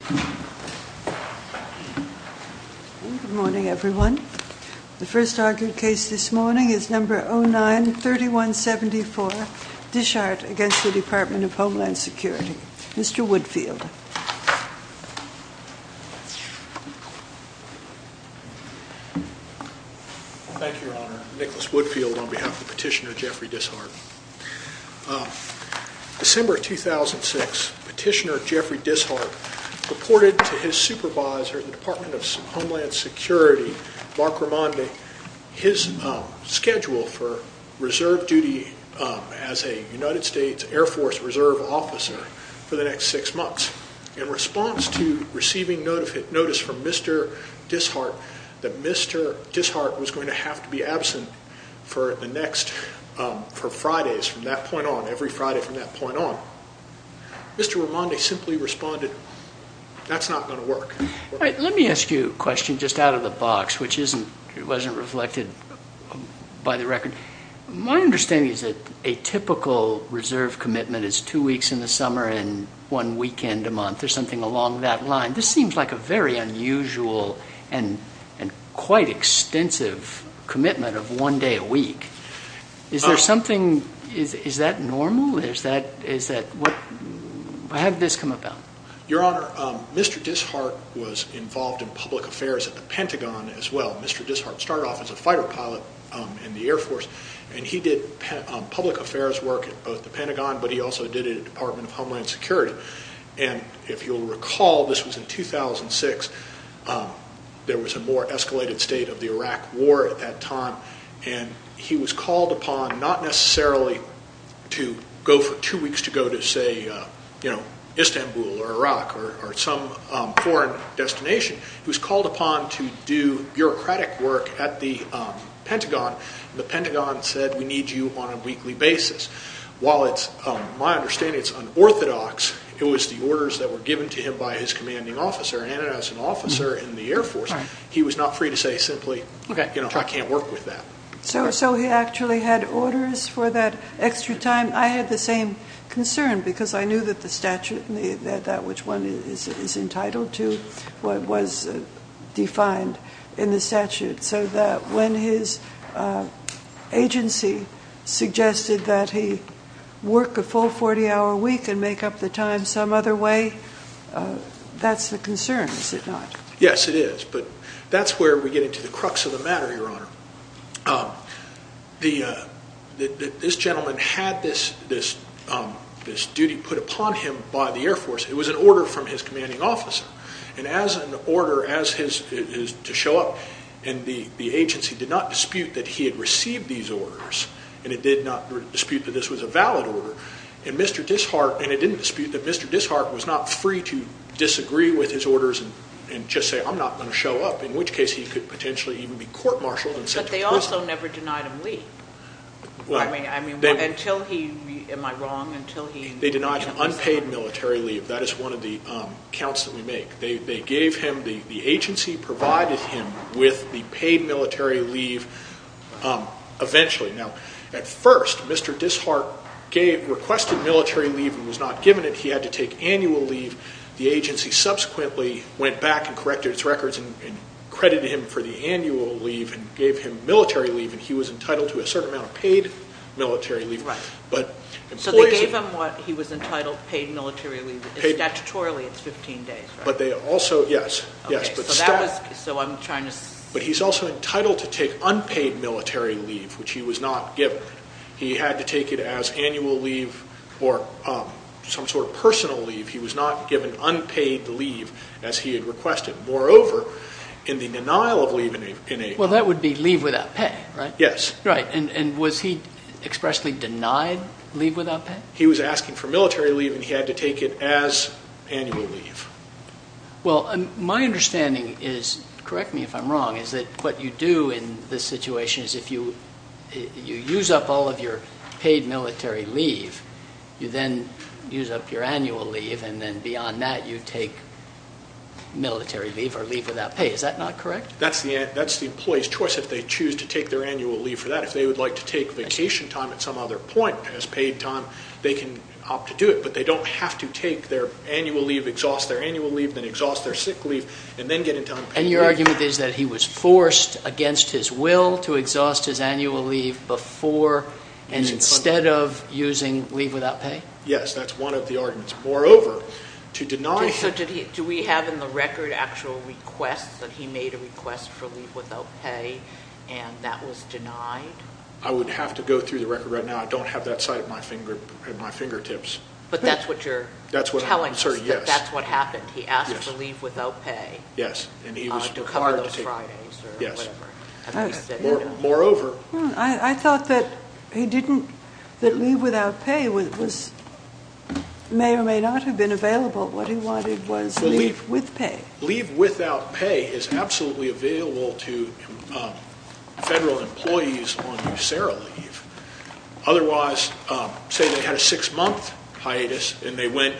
Good morning, everyone. The first argued case this morning is No. 09-3174, Dishart v. Department of Homeland Security. Mr. Woodfield. Thank you, Your Honor. Nicholas Woodfield on behalf of Petitioner Jeffrey Dishart. December 2006, Petitioner Jeffrey Dishart reported to his supervisor at the Department of Homeland Security, Mark Ramondi, his schedule for reserve duty as a United States Air Force reserve officer for the next six months. In response to receiving notice from Mr. Dishart that Mr. Dishart was going to have to be absent for Fridays from that point on, every Friday from that point on, Mr. Ramondi simply responded, that's not going to work. Let me ask you a question just out of the box, which wasn't reflected by the record. My understanding is that a typical reserve commitment is two weeks in the summer and one weekend a month, or something along that line. This seems like a very unusual and quite extensive commitment of one day a week. Is that normal? How did this come about? Your Honor, Mr. Dishart was involved in public affairs at the Pentagon as well. Mr. Dishart started off as a fighter pilot in the Air Force. He did public affairs work at both the Pentagon, but he also did it at the Department of Homeland Security. If you'll recall, this was in 2006, there was a more escalated state of the Iraq war at that time. He was called upon not necessarily to go for two weeks to go to say, Istanbul or Iraq or some foreign destination. He was called upon to do bureaucratic work at the Pentagon. The Pentagon said, we need you on a weekly basis. While it's, my understanding, it's unorthodox, it was the orders that were given to him by his Air Force. He was not free to say simply, I can't work with that. So he actually had orders for that extra time. I had the same concern because I knew that the statute, that which one is entitled to, was defined in the statute so that when his agency suggested that he work a full 40 hour week and make up the time some other way, that's the concern, is it not? Yes, it is. But that's where we get into the crux of the matter, Your Honor. This gentleman had this duty put upon him by the Air Force. It was an order from his commanding officer. And as an order to show up and the agency did not dispute that he had received these orders and it did not dispute that this was a valid order. And Mr. Dishart, and it didn't dispute that Mr. Dishart was not free to disagree with his orders and just say, I'm not going to show up, in which case he could potentially even be court-martialed. But they also never denied him leave. I mean, until he, am I wrong? They denied him unpaid military leave. That is one of the counts that we make. They gave him, the agency provided him with the paid military leave eventually. Now, at first, Mr. Dishart requested military leave and was not given it. He had to take annual leave. The agency subsequently went back and corrected its records and credited him for the annual leave and gave him military leave. And he was entitled to a certain amount of paid military leave. Right. So they gave him what he was entitled, paid military leave. Statutorily, it's 15 days. But they also, yes, yes. So I'm trying to... But he's also entitled to take unpaid military leave, which he was not given. He had to take it as annual leave or some sort of personal leave. He was not given unpaid leave as he had requested. Moreover, in the denial of leave in a... Well, that would be leave without pay, right? Yes. Right. And was he expressly denied leave without pay? He was asking for military leave and he had to take it as annual leave. Well, my understanding is, correct me if I'm wrong, is that what you do in this situation is you use up all of your paid military leave, you then use up your annual leave, and then beyond that you take military leave or leave without pay. Is that not correct? That's the employee's choice if they choose to take their annual leave for that. If they would like to take vacation time at some other point as paid time, they can opt to do it. But they don't have to take their annual leave, exhaust their annual leave, then exhaust their sick leave, and then get into unpaid leave. Your argument is that he was forced against his will to exhaust his annual leave before and instead of using leave without pay? Yes, that's one of the arguments. Moreover, to deny... So do we have in the record actual requests that he made a request for leave without pay and that was denied? I would have to go through the record right now. I don't have that sight at my fingertips. But that's what you're telling us? That's what happened. He asked for leave without pay. Yes, and he was... To cover those Fridays or whatever. Yes. Moreover... I thought that leave without pay may or may not have been available. What he wanted was leave with pay. Leave without pay is absolutely available to federal employees on USARA leave. Otherwise, say they had a six-month hiatus and they went...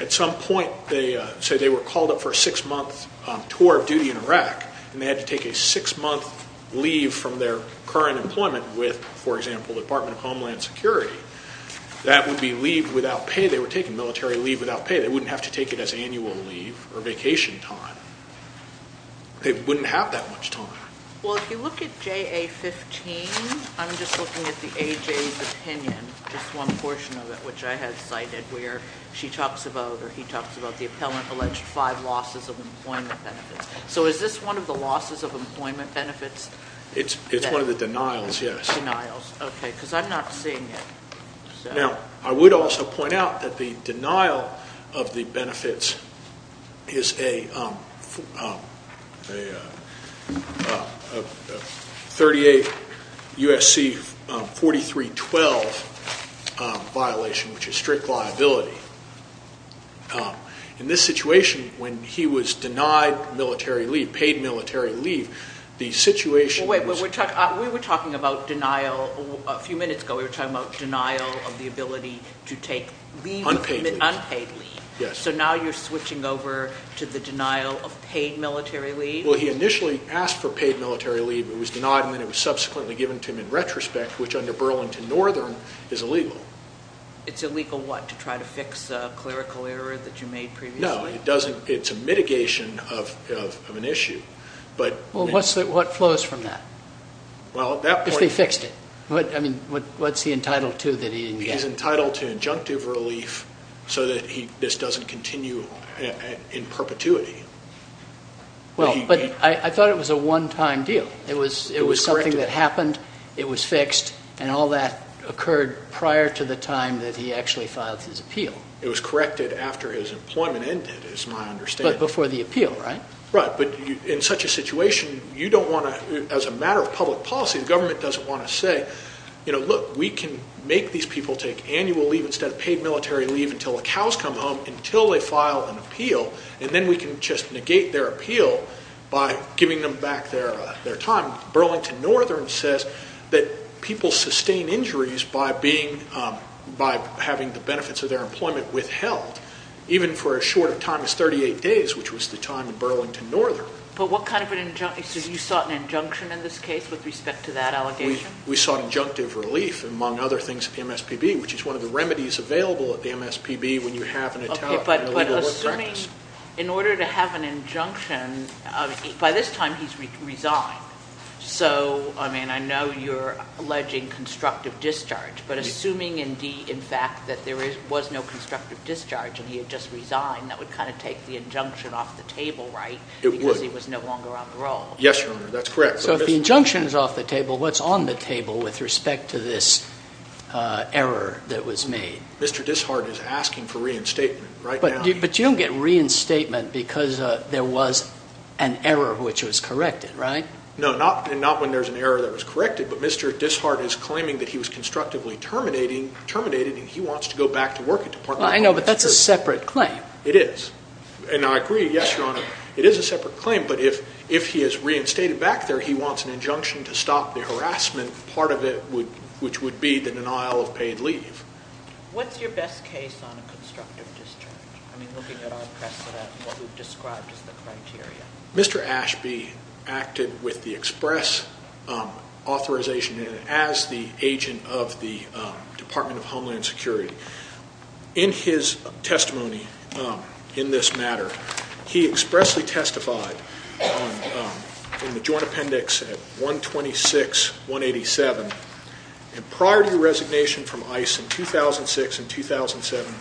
At some point, say they were called up for a six-month tour of duty in Iraq and they had to take a six-month leave from their current employment with, for example, the Department of Homeland Security, that would be leave without pay. They were taking military leave without pay. They wouldn't have to take it as annual leave or vacation time. They wouldn't have that much time. Well, if you look at JA-15, I'm just looking at the AJ's opinion, just one portion of it, which I had cited where she talks about or he talks about the appellant alleged five losses of employment benefits. So is this one of the losses of employment benefits? It's one of the denials, yes. Denials. Okay, because I'm not seeing it. Now, I would also point out that the denial of the benefits is a a 38 USC 4312 violation, which is strict liability. In this situation, when he was denied military leave, paid military leave, the situation... Wait, we were talking about denial a few minutes ago. We were talking about denial of the ability to take leave... Unpaid leave. Unpaid leave. Yes. So now you're switching over to the denial of paid military leave? Well, he initially asked for paid military leave. It was denied and then it was subsequently given to him in retrospect, which under Burlington Northern is illegal. It's illegal what? To try to fix a clerical error that you made previously? No, it doesn't. It's a mitigation of an issue, but... Well, what flows from that? Well, at that point... If they fixed it. I mean, what's he entitled to that he didn't get? He's entitled to injunctive relief so that this doesn't continue in perpetuity. Well, but I thought it was a one-time deal. It was something that happened, it was fixed, and all that occurred prior to the time that he actually filed his appeal. It was corrected after his employment ended, is my understanding. But before the appeal, right? Right. But in such a situation, you don't want to, as a matter of public policy, the government doesn't want to say, you know, look, we can make these people take annual leave instead of paid military leave until the cows come home, until they file an appeal, and then we can just negate their appeal by giving them back their time. Burlington Northern says that people sustain injuries by being... by having the benefits of their employment withheld, even for as short a time as 38 days, which was the time in Burlington Northern. But what kind of an injun... So you sought an injunction in this case with respect to that allegation? We sought injunctive relief, among other things, at the MSPB, which is one of the remedies available at the MSPB when you have an... But assuming, in order to have an injunction, by this time he's resigned. So, I mean, I know you're alleging constructive discharge, but assuming indeed, in fact, that there was no constructive discharge and he had just resigned, that would kind of take the injunction off the table, right? It would. Because he was no longer on the roll. Yes, Your Honor, that's correct. So if the injunction is off the table, what's on the table with respect to this error that was made? Mr. Dishart is asking for reinstatement right now. But you don't get reinstatement because there was an error which was corrected, right? No, not when there's an error that was corrected. But Mr. Dishart is claiming that he was constructively terminating, terminated, and he wants to go back to work at Department of Public Services. I know, but that's a separate claim. It is. And I agree. Yes, Your Honor, it is a separate claim. But if he is reinstated back there, he wants an injunction to stop the harassment. Part of it would, which would be the denial of paid leave. What's your best case on a constructive discharge? I mean, looking at our precedent and what we've described as the criteria. Mr. Ashby acted with the express authorization as the agent of the Department of Homeland Security. In his testimony in this matter, he expressly testified on, in the joint appendix at 126-187. And prior to your resignation from ICE in 2006 and 2007,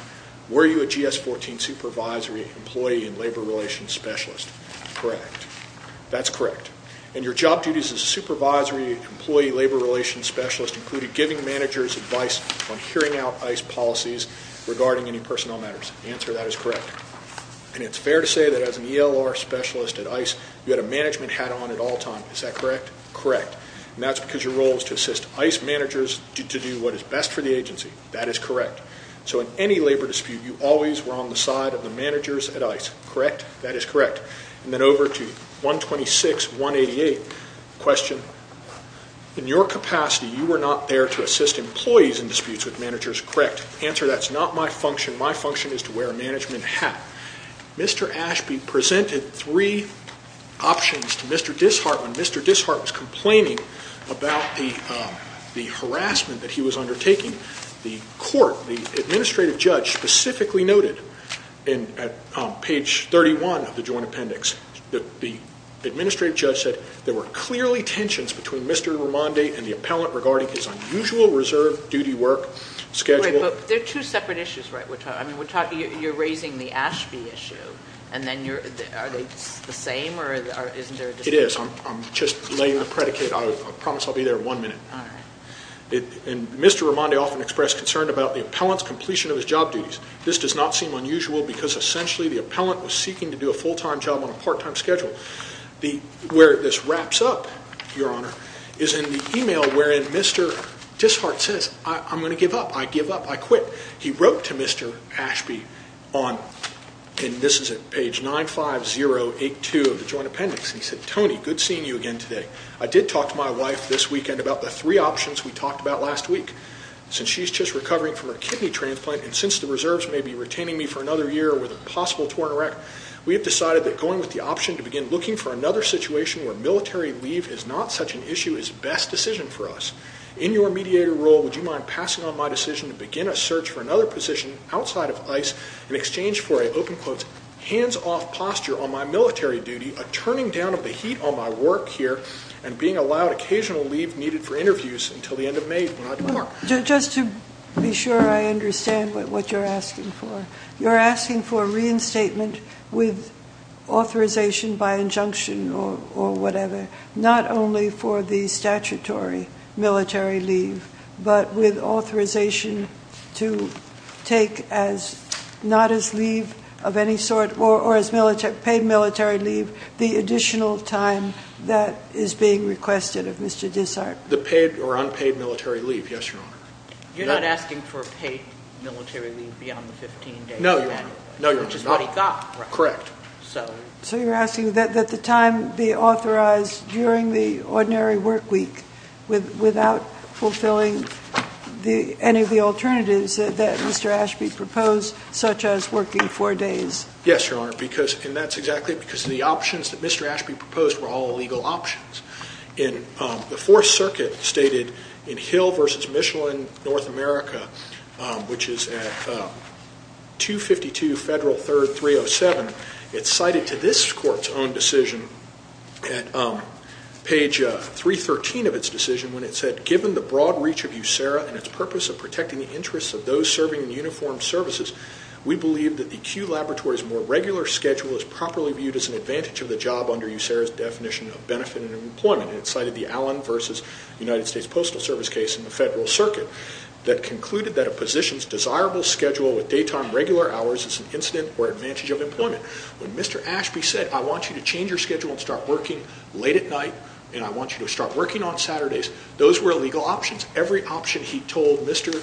were you a GS-14 supervisory employee and labor relations specialist? Correct. That's correct. And your job duties as a supervisory employee labor relations specialist included giving managers advice on hearing out ICE policies regarding any personnel matters. The answer to that is correct. And it's fair to say that as an ELR specialist at ICE, you had a management hat on at all times, is that correct? Correct. And that's because your role is to assist ICE managers to do what is best for the agency. That is correct. So in any labor dispute, you always were on the side of the managers at ICE, correct? That is correct. And then over to 126-188, question. In your capacity, you were not there to assist employees in disputes with managers, correct? Answer, that's not my function. My function is to wear a management hat. Mr. Ashby presented three options to Mr. Dishart. When Mr. Dishart was complaining about the harassment that he was undertaking, the court, the administrative judge specifically noted in page 31 of the joint appendix, that the administrative judge said there were clearly tensions between Mr. Rimonde and the appellant regarding his unusual reserve duty work schedule. There are two separate issues, right? You're raising the Ashby issue, and then are they the same or isn't there a dispute? It is. I'm just laying the predicate. I promise I'll be there in one minute. And Mr. Rimonde often expressed concern about the appellant's completion of his job duties. This does not seem unusual because essentially, the appellant was seeking to do a full-time job on a part-time schedule. Where this wraps up, Your Honor, is in the email wherein Mr. Dishart says, I'm going to give up. I give up. I quit. He wrote to Mr. Ashby on, and this is at page 95082 of the joint appendix, and he said, Tony, good seeing you again today. I did talk to my wife this weekend about the three options we talked about last week. Since she's just recovering from her kidney transplant, and since the reserves may be retaining me for another year with a possible torn erect, we have decided that going with the option to begin looking for another situation where military leave is not such an issue is best decision for us. In your mediator role, would you mind passing on my decision to begin a search for another position outside of ICE in exchange for a, open quotes, hands-off posture on my military duty, a turning down of the heat on my work here, and being allowed occasional leave needed for interviews until the end of May when I depart? Just to be sure I understand what you're asking for, you're asking for reinstatement with authorization by injunction or whatever, not only for the statutory military leave, but with authorization to take as not as leave of any sort or as paid military leave the additional time that is being requested of Mr. Dessart. The paid or unpaid military leave, yes, Your Honor. You're not asking for paid military leave beyond the 15 days? No, Your Honor. Which is what he got, right? Correct. So you're asking that the time be authorized during the ordinary work week without fulfilling any of the alternatives that Mr. Ashby proposed, such as working four days? Yes, Your Honor, and that's exactly because the options that Mr. Ashby proposed were all legal options. In the Fourth Circuit, stated in Hill v. Michelin, North America, which is at 252 Federal 3rd 307, it's cited to this court's own decision at page 313 of its decision when it said, given the broad reach of USERRA and its purpose of protecting the interests of those serving in uniformed services, we believe that the Q Laboratory's more regular schedule is properly viewed as an advantage of the job under USERRA's definition of benefit and employment. And it cited the Allen v. United States Postal Service case in the Federal Circuit that concluded that a position's desirable schedule with daytime regular hours is an incident or advantage of employment. When Mr. Ashby said, I want you to change your schedule and start working late at night, and I want you to start working on Saturdays, those were legal options. Every option he told Mr.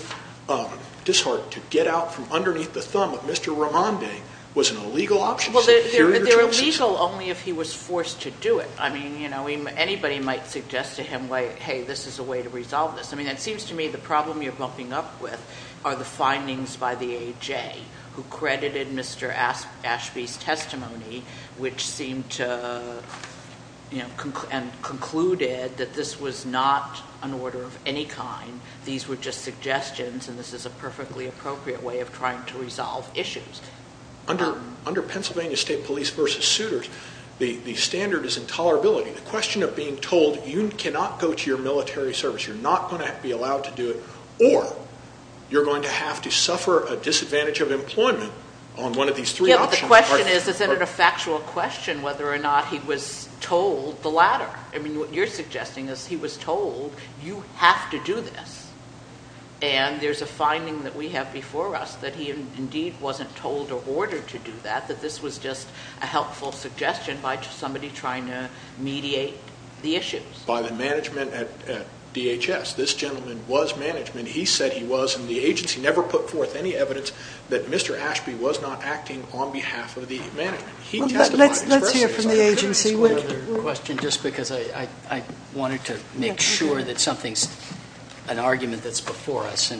Dishart to get out from underneath the thumb of Mr. Raimondi was an illegal option. Well, they're illegal only if he was forced to do it. I mean, you know, anybody might suggest to him, like, hey, this is a way to resolve this. I mean, it seems to me the problem you're bumping up with are the findings by the AJ, who credited Mr. Ashby's testimony, which seemed to, you know, and concluded that this was not an order of any kind. These were just suggestions, and this is a perfectly appropriate way of trying to resolve issues. Under Pennsylvania State Police v. Suitors, the standard is intolerability. The question of being told, you cannot go to your military service, you're not going to be allowed to do it, or you're going to have to suffer a disadvantage of employment on one of these three options. Yeah, but the question is, is it a factual question whether or not he was told the latter? I mean, what you're suggesting is he was told, you have to do this. And there's a finding that we have before us that he indeed wasn't told or ordered to do that, that this was just a helpful suggestion by somebody trying to mediate the issues. By the management at DHS. This gentleman was management. He said he was, and the agency never put forth any evidence that Mr. Ashby was not acting on behalf of the management. He testified expressly on behalf of the agency. Let's hear from the agency. Just one other question, just because I wanted to make sure that something's, an argument that's before us.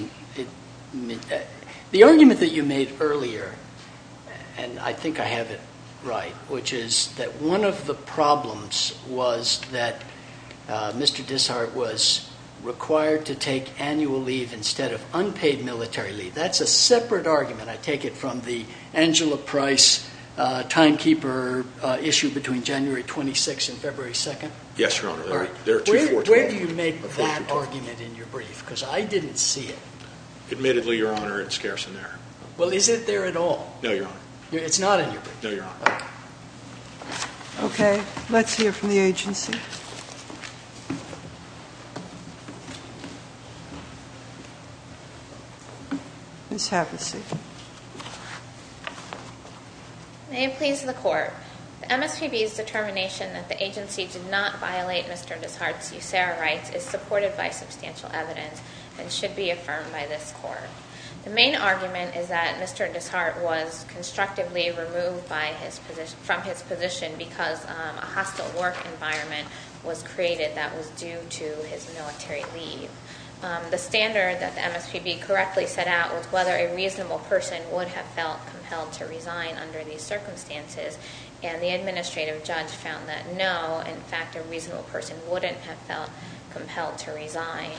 The argument that you made earlier, and I think I have it right, which is that one of the problems was that Mr. Dishart was required to take annual leave instead of unpaid military leave. That's a separate argument. I take it from the Angela Price timekeeper issue between January 26th and February 2nd? Yes, Your Honor. Where do you make that argument in your brief? Because I didn't see it. Admittedly, Your Honor, it's scarce in there. Well, is it there at all? No, Your Honor. It's not in your brief? No, Your Honor. Okay, let's hear from the agency. Ms. Havasek. May it please the Court, the MSPB's determination that the agency did not violate Mr. Dishart's USARA rights is supported by substantial evidence and should be affirmed by this Court. The main argument is that Mr. Dishart was constructively removed from his position because a hostile work environment was created that was due to his military leave. The standard that the person would have felt compelled to resign under these circumstances, and the administrative judge found that no, in fact, a reasonable person wouldn't have felt compelled to resign.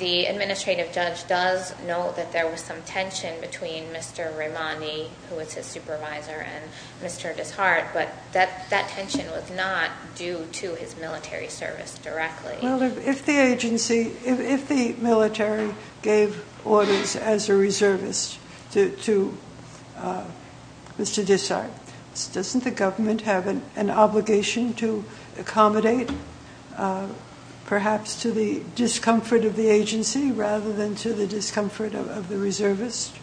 The administrative judge does note that there was some tension between Mr. Raimondi, who was his supervisor, and Mr. Dishart, but that tension was not due to his military service directly. Well, if the agency, if the military gave orders as a reservist to Mr. Dishart, doesn't the government have an obligation to accommodate perhaps to the discomfort of the agency rather than to the discomfort of the reservist?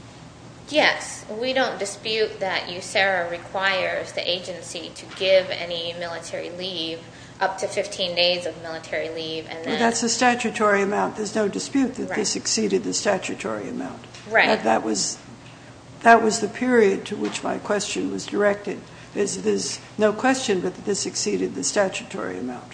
Yes. We don't dispute that USARA requires the agency to give any military leave, up to 15 days of military leave. Well, that's the statutory amount. There's no dispute that this exceeded the statutory amount. Right. That was the period to which my question was directed. There's no question that this exceeded the statutory amount.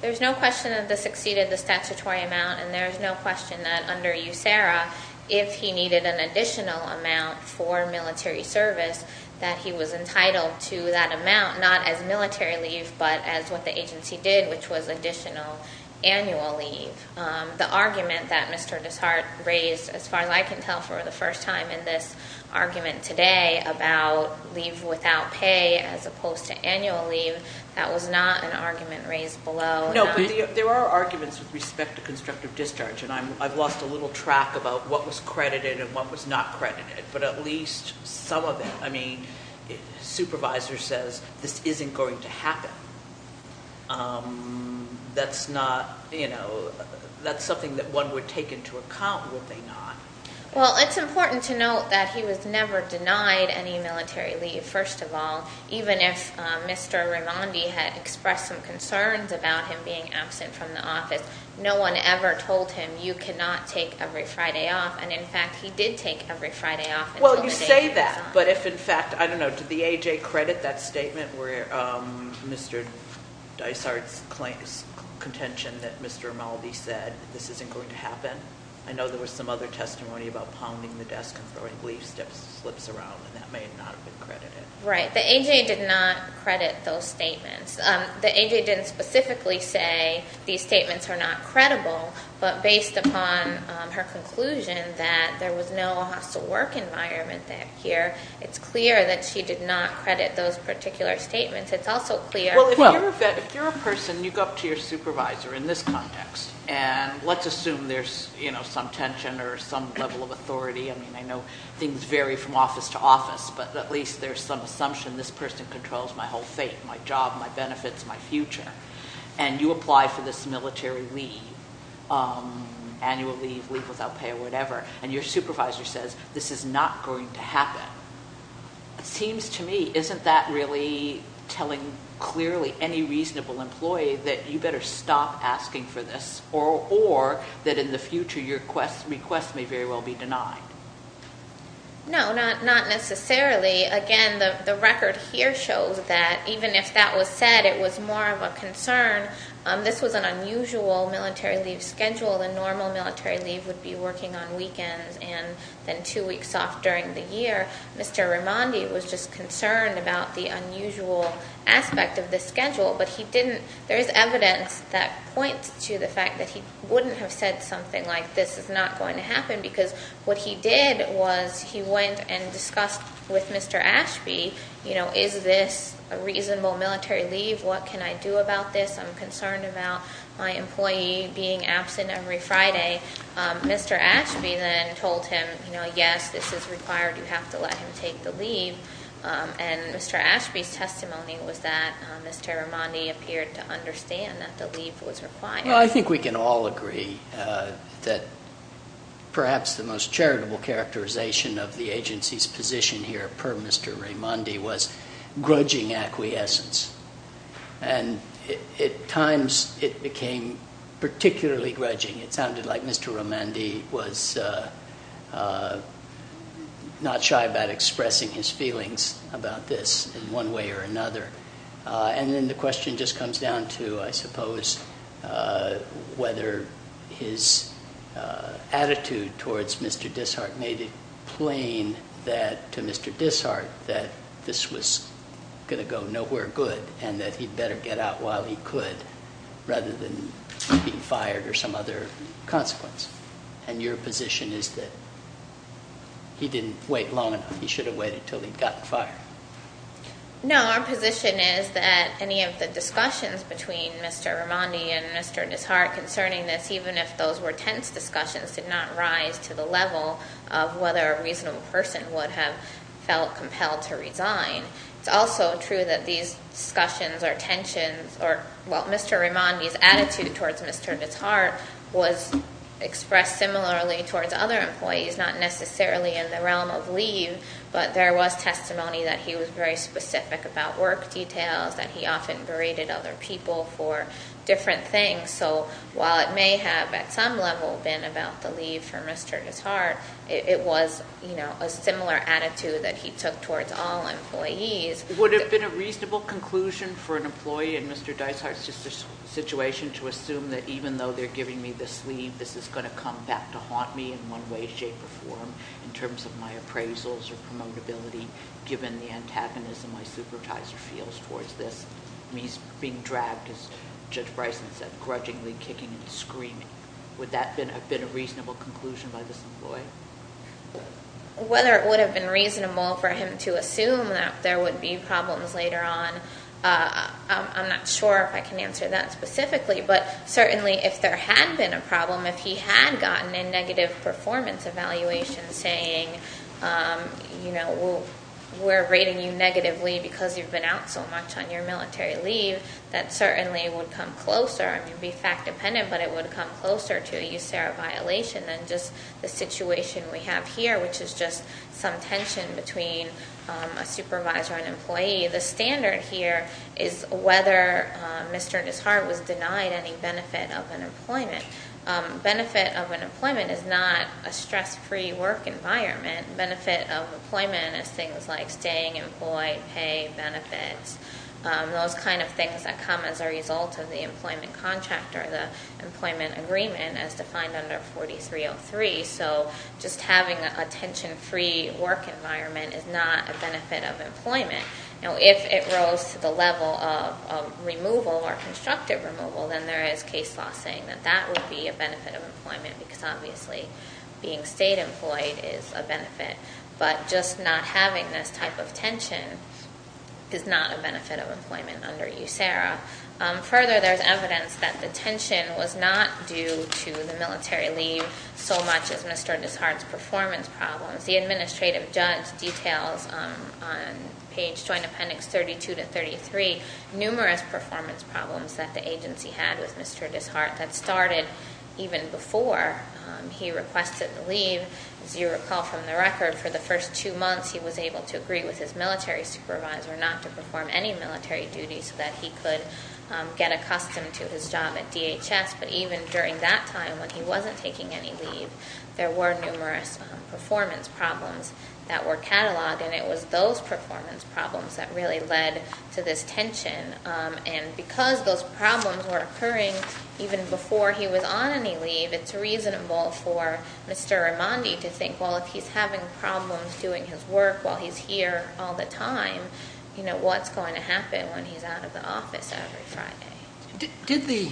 There's no question that this exceeded the statutory amount, and there's no question that under USARA, if he needed an additional amount for military service, that he was entitled to that amount, not as military leave, but as what the agency did, which was additional annual leave. The argument that Mr. Dishart raised, as far as I can tell, for the first time in this argument today about leave without pay as opposed to annual leave, that was not an argument raised below. No, but there are arguments with respect to constructive discharge, and I've lost a little track about what was credited and what was not credited, but at least some of it. I mean, a supervisor says, this isn't going to happen. That's something that one would take into account, would they not? Well, it's important to note that he was never denied any military leave, first of all. Even if Mr. Raimondi had expressed some concerns about him being absent from the office, no one ever told him, you cannot take every Friday off, and in fact, he did take every Friday off. Well, you say that, but if in fact, I don't know, did the AJ credit that statement where Mr. Dishart's contention that Mr. Raimondi said, this isn't going to happen? I know there was some other testimony about pounding the desk and throwing leaf slips around, and that may not have been credited. Right. The AJ did not credit those statements. The AJ didn't specifically say, these statements are not credible, but based upon her conclusion that there was no hostile work environment back here, it's clear that she did not credit those particular statements. It's also clear Well, if you're a person, you go up to your supervisor in this context, and let's assume there's some tension or some level of authority. I mean, I know things vary from office to office, but at least there's some assumption this person controls my whole fate, my job, my benefits, my future, and you apply for this military leave, annual leave, leave without pay or whatever, and your supervisor says, this is not going to happen. It seems to me, isn't that really telling clearly any reasonable employee that you better stop asking for this, or that in the future, your request may very well be denied? No, not necessarily. Again, the record here shows that even if that was said, it was more of a concern. This was an unusual military leave schedule. A normal military leave would be working on weekends and then two weeks off during the year. Mr. Rimondi was just concerned about the unusual aspect of this schedule, but he didn't, there is evidence that points to the fact that he wouldn't have said something like, this is not going to happen. What he did was he went and discussed with Mr. Ashby, is this a reasonable military leave? What can I do about this? I'm concerned about my employee being absent every Friday. Mr. Ashby then told him, yes, this is required. You have to let him take the leave, and Mr. Ashby's testimony was that Mr. Rimondi appeared to understand that the leave was required. I think we can all agree that perhaps the most charitable characterization of the agency's position here per Mr. Rimondi was grudging acquiescence. At times, it became particularly grudging. It sounded like Mr. Rimondi was not shy about expressing his feelings about this in one way or another. And then the question just comes down to, I suppose, whether his attitude towards Mr. Dishart made it plain that, to Mr. Dishart, that this was going to go nowhere good and that he'd better get out while he could rather than being fired or some other consequence. And your position is that he didn't wait long enough. He should have waited until he'd gotten fired. No, our position is that any of the discussions between Mr. Rimondi and Mr. Dishart concerning this, even if those were tense discussions, did not rise to the level of whether a reasonable person would have felt compelled to resign. It's also true that these discussions or tensions or, well, Mr. Rimondi's attitude towards Mr. Dishart was expressed similarly towards other employees, not necessarily in the realm of Mr. Dishart. There was testimony that he was very specific about work details, that he often berated other people for different things. So while it may have, at some level, been about the leave for Mr. Dishart, it was a similar attitude that he took towards all employees. Would it have been a reasonable conclusion for an employee in Mr. Dishart's situation to assume that even though they're giving me this leave, this is going to come back to haunt me in one way, shape, or form in terms of my appraisals or promotability given the antagonism my supervisor feels towards this? Me being dragged, as Judge Bryson said, grudgingly kicking and screaming. Would that have been a reasonable conclusion by this employee? Whether it would have been reasonable for him to assume that there would be problems later on, I'm not sure if I can answer that specifically. But certainly if there had been a problem, if he had gotten a negative performance evaluation saying, you know, we're rating you negatively because you've been out so much on your military leave, that certainly would come closer. I mean, it would be fact dependent, but it would come closer to a USARA violation than just the situation we have here, which is just some tension between a supervisor and employee. The standard here is whether Mr. Dishart was denied any benefit of an employment. Benefit of an employment is not a stress-free work environment. Benefit of employment is things like staying employed, pay, benefits, those kind of things that come as a result of the employment contract or the employment agreement as defined under 4303. So just having a tension-free work environment is not a benefit of employment. Now, if it was a USARA violation, I'm not sure if I can answer Mr. Dishart's law saying that that would be a benefit of employment because obviously being stayed employed is a benefit. But just not having this type of tension is not a benefit of employment under USARA. Further, there's evidence that the tension was not due to the military leave so much as Mr. Dishart's performance problems. The administrative judge details on page joint appendix 32 to 33 numerous performance problems that the agency had with Mr. Dishart that started even before he requested leave. As you recall from the record, for the first two months he was able to agree with his military supervisor not to perform any military duties so that he could get accustomed to his job at DHS. But even during that time when he wasn't taking any leave, there were numerous performance problems that were cataloged, and it was those performance problems that really led to this tension. And because those problems were occurring even before he was on any leave, it's reasonable for Mr. Raimondi to think, well, if he's having problems doing his work while he's here all the time, you know, what's going to happen when he's out of the office every Friday?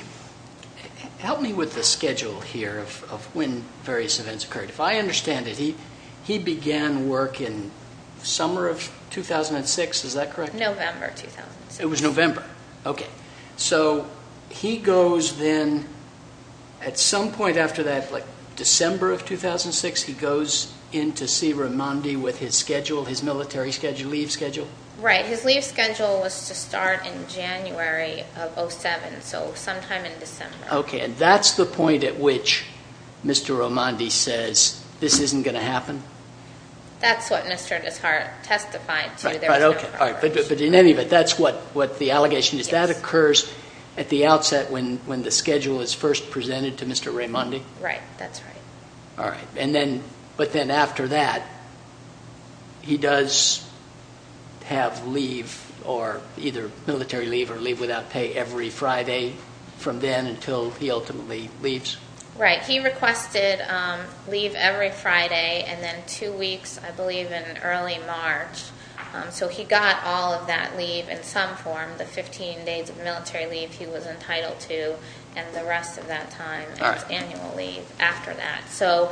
Help me with the schedule here of when various events occurred. If I understand it, he began work in the summer of 2006, is that correct? November 2006. It was November. Okay. So he goes then, at some point after that, like December of 2006, he goes in to see Raimondi with his schedule, his military schedule, leave schedule? Right. His leave schedule was to start in January of 2007, so sometime in December. Okay. And that's the point at which Mr. Raimondi says, this isn't going to happen? That's what Mr. Descartes testified to. But in any event, that's what the allegation is. That occurs at the outset when the schedule is first presented to Mr. Raimondi? Right. That's right. All right. But then after that, he does have leave or either military leave or leave without pay every Friday from then until he ultimately leaves? Right. He requested leave every Friday and then two weeks, I believe, in early March. So he got all of that leave in some form, the 15 days of military leave he was entitled to and the rest of that time as annual leave after that. So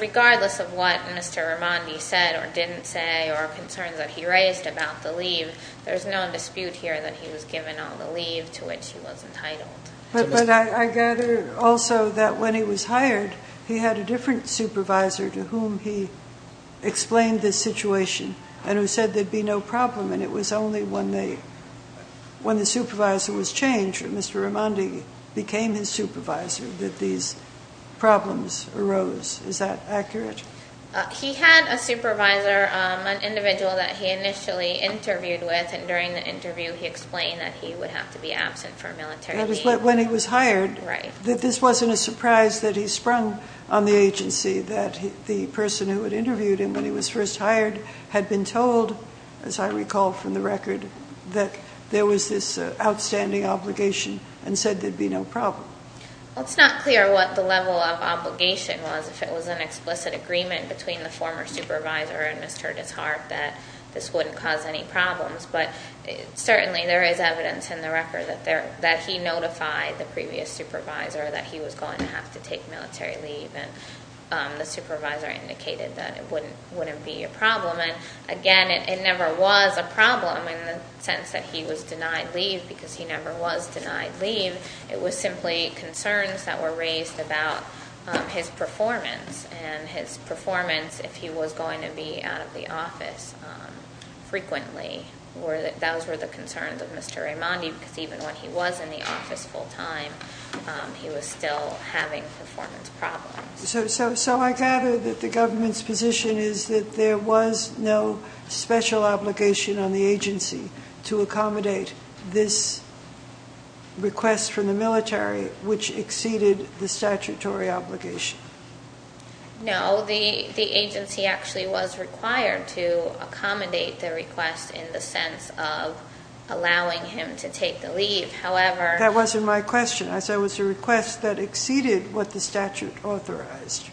regardless of what Mr. Raimondi said or didn't say or concerns that he raised about the leave, there's no dispute here that he was given all the leave to which he was entitled. But I gather also that when he was hired, he had a different supervisor to whom he explained this situation and who said there'd be no problem and it was only when the supervisor was changed, Mr. Raimondi became his supervisor, that these problems arose. Is that accurate? He had a supervisor, an individual that he initially interviewed with, and during the interview he explained that he would have to be absent for military leave. That was when he was hired. Right. That this wasn't a surprise that he sprung on the agency that the person who had interviewed him when he was first hired had been told, as I recall from the record, that there was this outstanding obligation and said there'd be no problem. Well, it's not clear what the level of obligation was. If it was an explicit agreement between the former supervisor and Mr. Descartes that this wouldn't cause any problems, but certainly there is evidence in the record that he notified the previous supervisor that he was going to have to take military leave and the supervisor indicated that it wouldn't be a problem. Again, it never was a problem in the sense that he was denied leave because he never was denied leave. It was simply concerns that were raised about his performance and his performance if he was going to be out of the office frequently. Those were the concerns of Mr. Raimondi because even when he was in the office full time, he was still having performance problems. So I gather that the government's position is that there was no special obligation on the agency to accommodate this request from the military which exceeded the statutory obligation. No, the agency actually was required to accommodate the request in the sense of allowing him to take the leave. However... That wasn't my question. I said it was a request that exceeded what the statute authorized.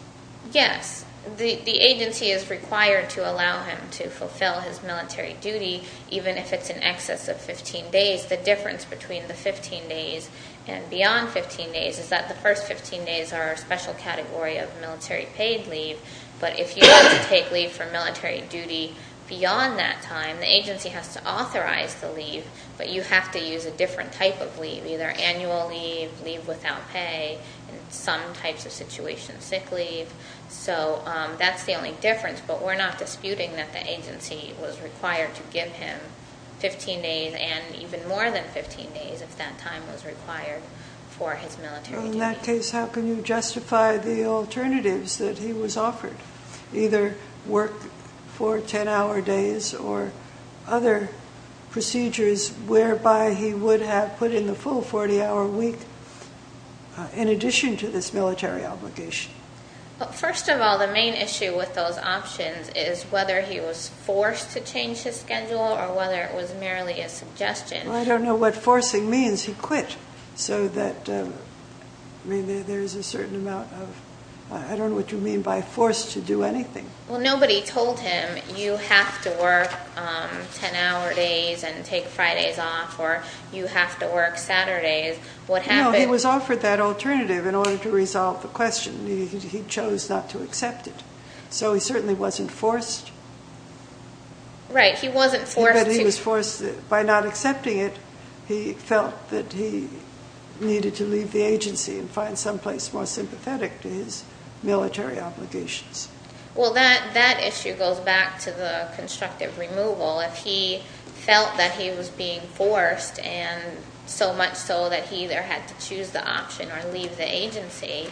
Yes. The agency is required to allow him to fulfill his military duty even if it's in excess of 15 days. The difference between the 15 days and beyond 15 days is that the first 15 days are a special category of military paid leave, but if you want to take leave for military duty beyond that time, the agency has to authorize the leave, but you have to choose a different type of leave, either annual leave, leave without pay, in some types of situations sick leave. So that's the only difference, but we're not disputing that the agency was required to give him 15 days and even more than 15 days if that time was required for his military duty. In that case, how can you justify the alternatives that he was offered? Either work for 10 hour days or other procedures whereby he would have put in the full 40 hour week in addition to this military obligation? First of all, the main issue with those options is whether he was forced to change his schedule or whether it was merely a suggestion. I don't know what forcing means. He quit so that there's a certain amount of... I don't know what you mean by forced to do anything. Well, nobody told him you have to work 10 hour days and take Fridays off or you have to work Saturdays. What happened... No, he was offered that alternative in order to resolve the question. He chose not to accept it. So he certainly wasn't forced. Right, he wasn't forced to... But he was forced, by not accepting it, he felt that he needed to leave the agency and find someplace more sympathetic to his military obligations. Well, that issue goes back to the constructive removal. If he felt that he was being forced and so much so that he either had to choose the option or leave the agency,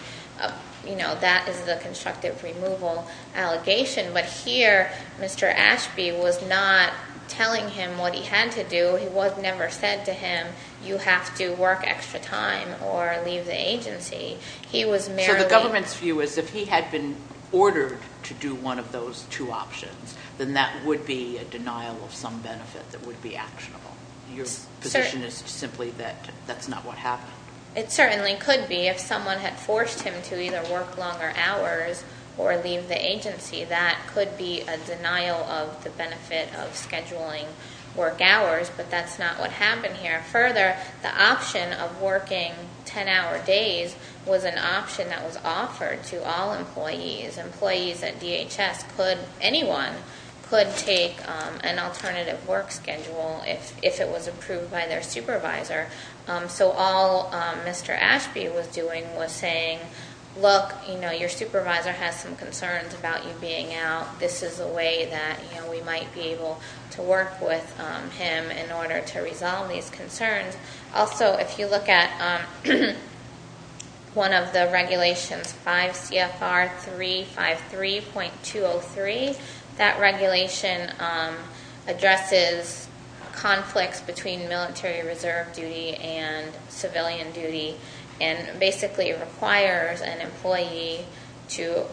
that is the constructive removal allegation. But here, Mr. Ashby was not telling him what he had to do. It was never said to him, you have to work extra time or leave the agency. He was merely... If he was ordered to do one of those two options, then that would be a denial of some benefit that would be actionable. Your position is simply that that's not what happened. It certainly could be. If someone had forced him to either work longer hours or leave the agency, that could be a denial of the benefit of scheduling work hours, but that's not what happened here. Further, the option of working 10-hour days was an option that was offered to all employees. Employees at DHS could, anyone, could take an alternative work schedule if it was approved by their supervisor. So all Mr. Ashby was doing was saying, look, your supervisor has some concerns about you being out. This is a way that we might be able to work with him in order to address those concerns. Also, if you look at one of the regulations, 5 CFR 353.203, that regulation addresses conflicts between military reserve duty and civilian duty, and basically requires an employee to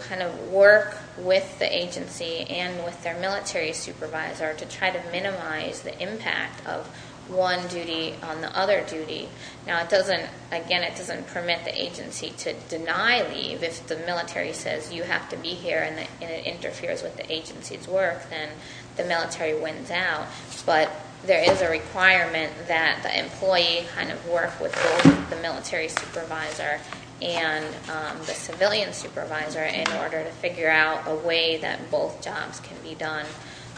work with the agency and with their military supervisor to try to minimize the impact of one duty on the other duty. Now it doesn't, again, it doesn't permit the agency to deny leave if the military says you have to be here and it interferes with the agency's work, then the military wins out. But there is a requirement that the employee kind of work with both the military supervisor and the civilian supervisor in order to figure out a way that both jobs can be done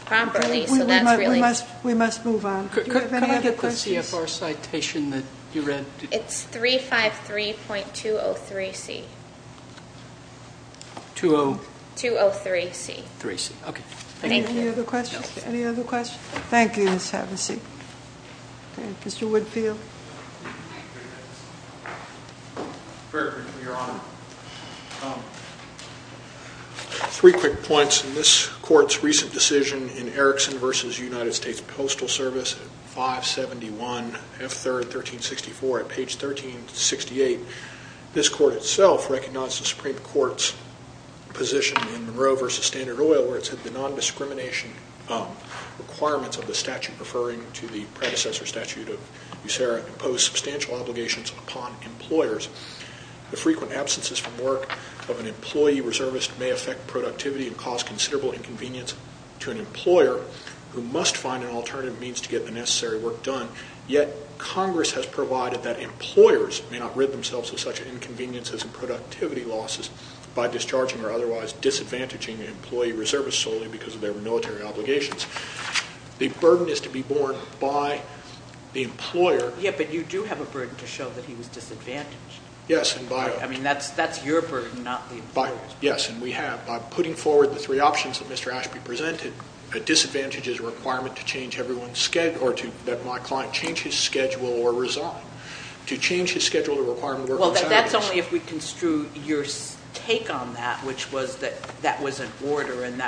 properly, so that's really... We must move on. Do you have any other questions? Could I get the CFR citation that you read? It's 353.203C. 20... 203C. 3C, okay. Thank you. Any other questions? Any other questions? Thank you, Ms. Hevesy. Mr. Woodfield. Very briefly, Your Honor. Three quick points. In this court's recent decision in Erickson v. United States Postal Service, 571F3, 1364, at page 1368, this court itself recognized the Supreme Court's position in Monroe v. Standard Oil where it said the non-discrimination requirements of the statute referring to the predecessor statute of USERRA impose substantial obligations upon employers. The frequent absences from work of an employee reservist may affect productivity and cause considerable inconvenience to an employer who must find an alternative means to get the necessary work done. Yet Congress has provided that employers may not rid themselves of such inconveniences and productivity losses by discharging or otherwise disadvantaging employee reservists solely because of their military obligations. The burden is to be borne by the employer... Yeah, but you do have a burden to show that he was disadvantaged. Yes, and by... I mean, that's your burden, not the employer's. Yes, and we have. By putting forward the three options that Mr. Ashby presented, a disadvantage is a requirement to change everyone's schedule, or to let my client change his schedule or resign. To change his schedule, the requirement... Well, that's only if we construe your take on that, which was that that was an order and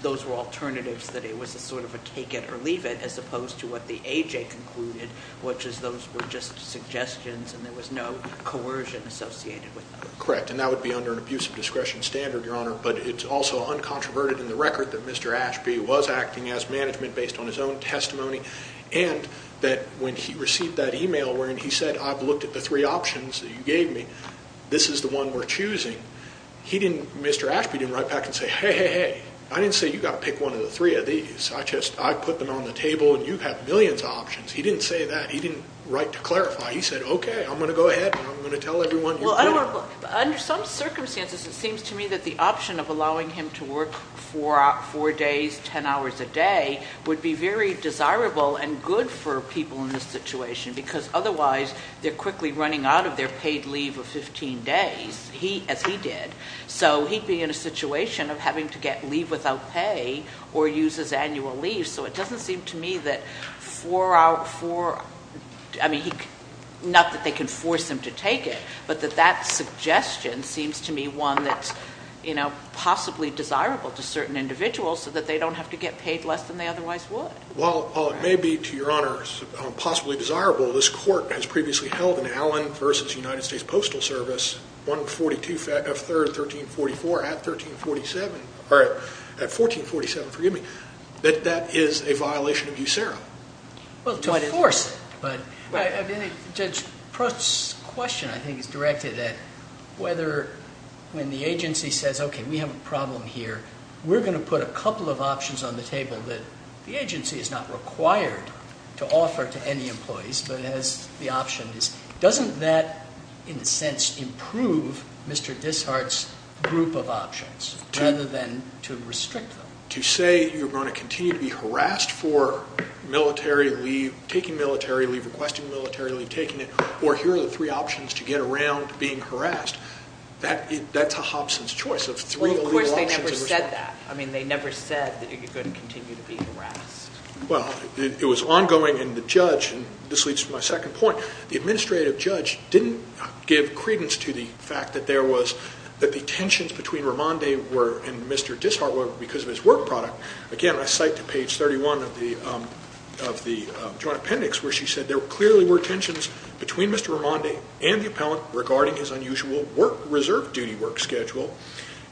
those were alternatives, that it was a sort of a take it or leave it, as opposed to what the AJ concluded, which is those were just suggestions and there was no coercion associated with them. Correct, and that would be under an abuse of discretion standard, Your Honor, but it's also uncontroverted in the record that Mr. Ashby was acting as management based on his own testimony, and that when he received that email wherein he said, I've looked at the three options that you gave me, this is the one we're choosing, he didn't, Mr. Ashby didn't write back and say, hey, hey, hey, I didn't say you've got to pick one of the three of these. I just, I put them on the table and you have millions of options. He didn't say that. He didn't write to clarify. He said, okay, I'm going to go ahead and I'm going to tell everyone you did it. Well, under some circumstances it seems to me that the option of allowing him to work four days, ten hours a day would be very desirable and good for people in this situation because otherwise they're quickly running out of their paid leave of 15 days. He, as he did, so he'd be in a situation of having to get leave without pay or use his annual leave. So it doesn't seem to me that for, I mean, not that they can force him to take it, but that that suggestion seems to me one that's, you know, possibly desirable to certain individuals so that they don't have to get paid less than they otherwise would. Well, it may be, to Your Honor, possibly desirable. This court has previously held in Allen v. United States Postal Service, 142 F. 3rd, 1344, at 1347, or at 1447, forgive me, that that is a violation of USERRA. Well, to force it, but Judge Prost's question, I think, is directed at whether when the agency says, okay, we have a problem here, we're going to put a couple of options on the table that the agency is not required to offer to any employees but has the options, doesn't that, in a sense, improve Mr. Dishart's group of options rather than to restrict them? To say you're going to continue to be harassed for military leave, taking military leave, requesting military leave, taking it, or here are the three options to get around being harassed, that's a Hobson's choice of three legal options. Well, of course, they never said that. I mean, they never said that you're going to continue to be harassed. Well, it was ongoing, and the judge, and this leads to my second point, the administrative judge didn't give credence to the fact that there was, that the tensions between Raimondi and Mr. Dishart were because of his work product. Again, I cite to page 31 of the joint appendix where she said, there clearly were tensions between Mr. Raimondi and the appellant regarding his unusual reserve duty work schedule,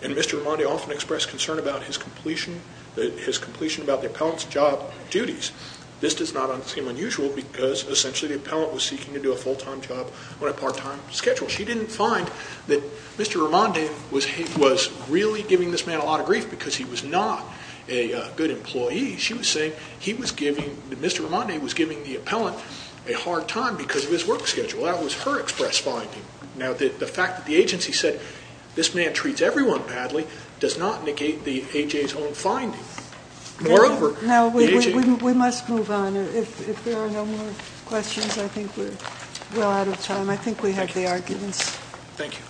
and Mr. Raimondi often expressed concern about his completion about the appellant's job duties. This does not seem unusual because, essentially, the appellant was seeking to do a full-time job on a part-time schedule. She didn't find that Mr. Raimondi was really giving this man a lot of grief because he was not a good employee. She was saying Mr. Raimondi was giving the appellant a hard time because of his work schedule. That was her express finding. Now, the fact that the agency said this man treats everyone badly does not negate the A.J.'s own finding. Moreover, the A.J. No, we must move on. If there are no more questions, I think we're well out of time. I think we have the arguments. Thank you.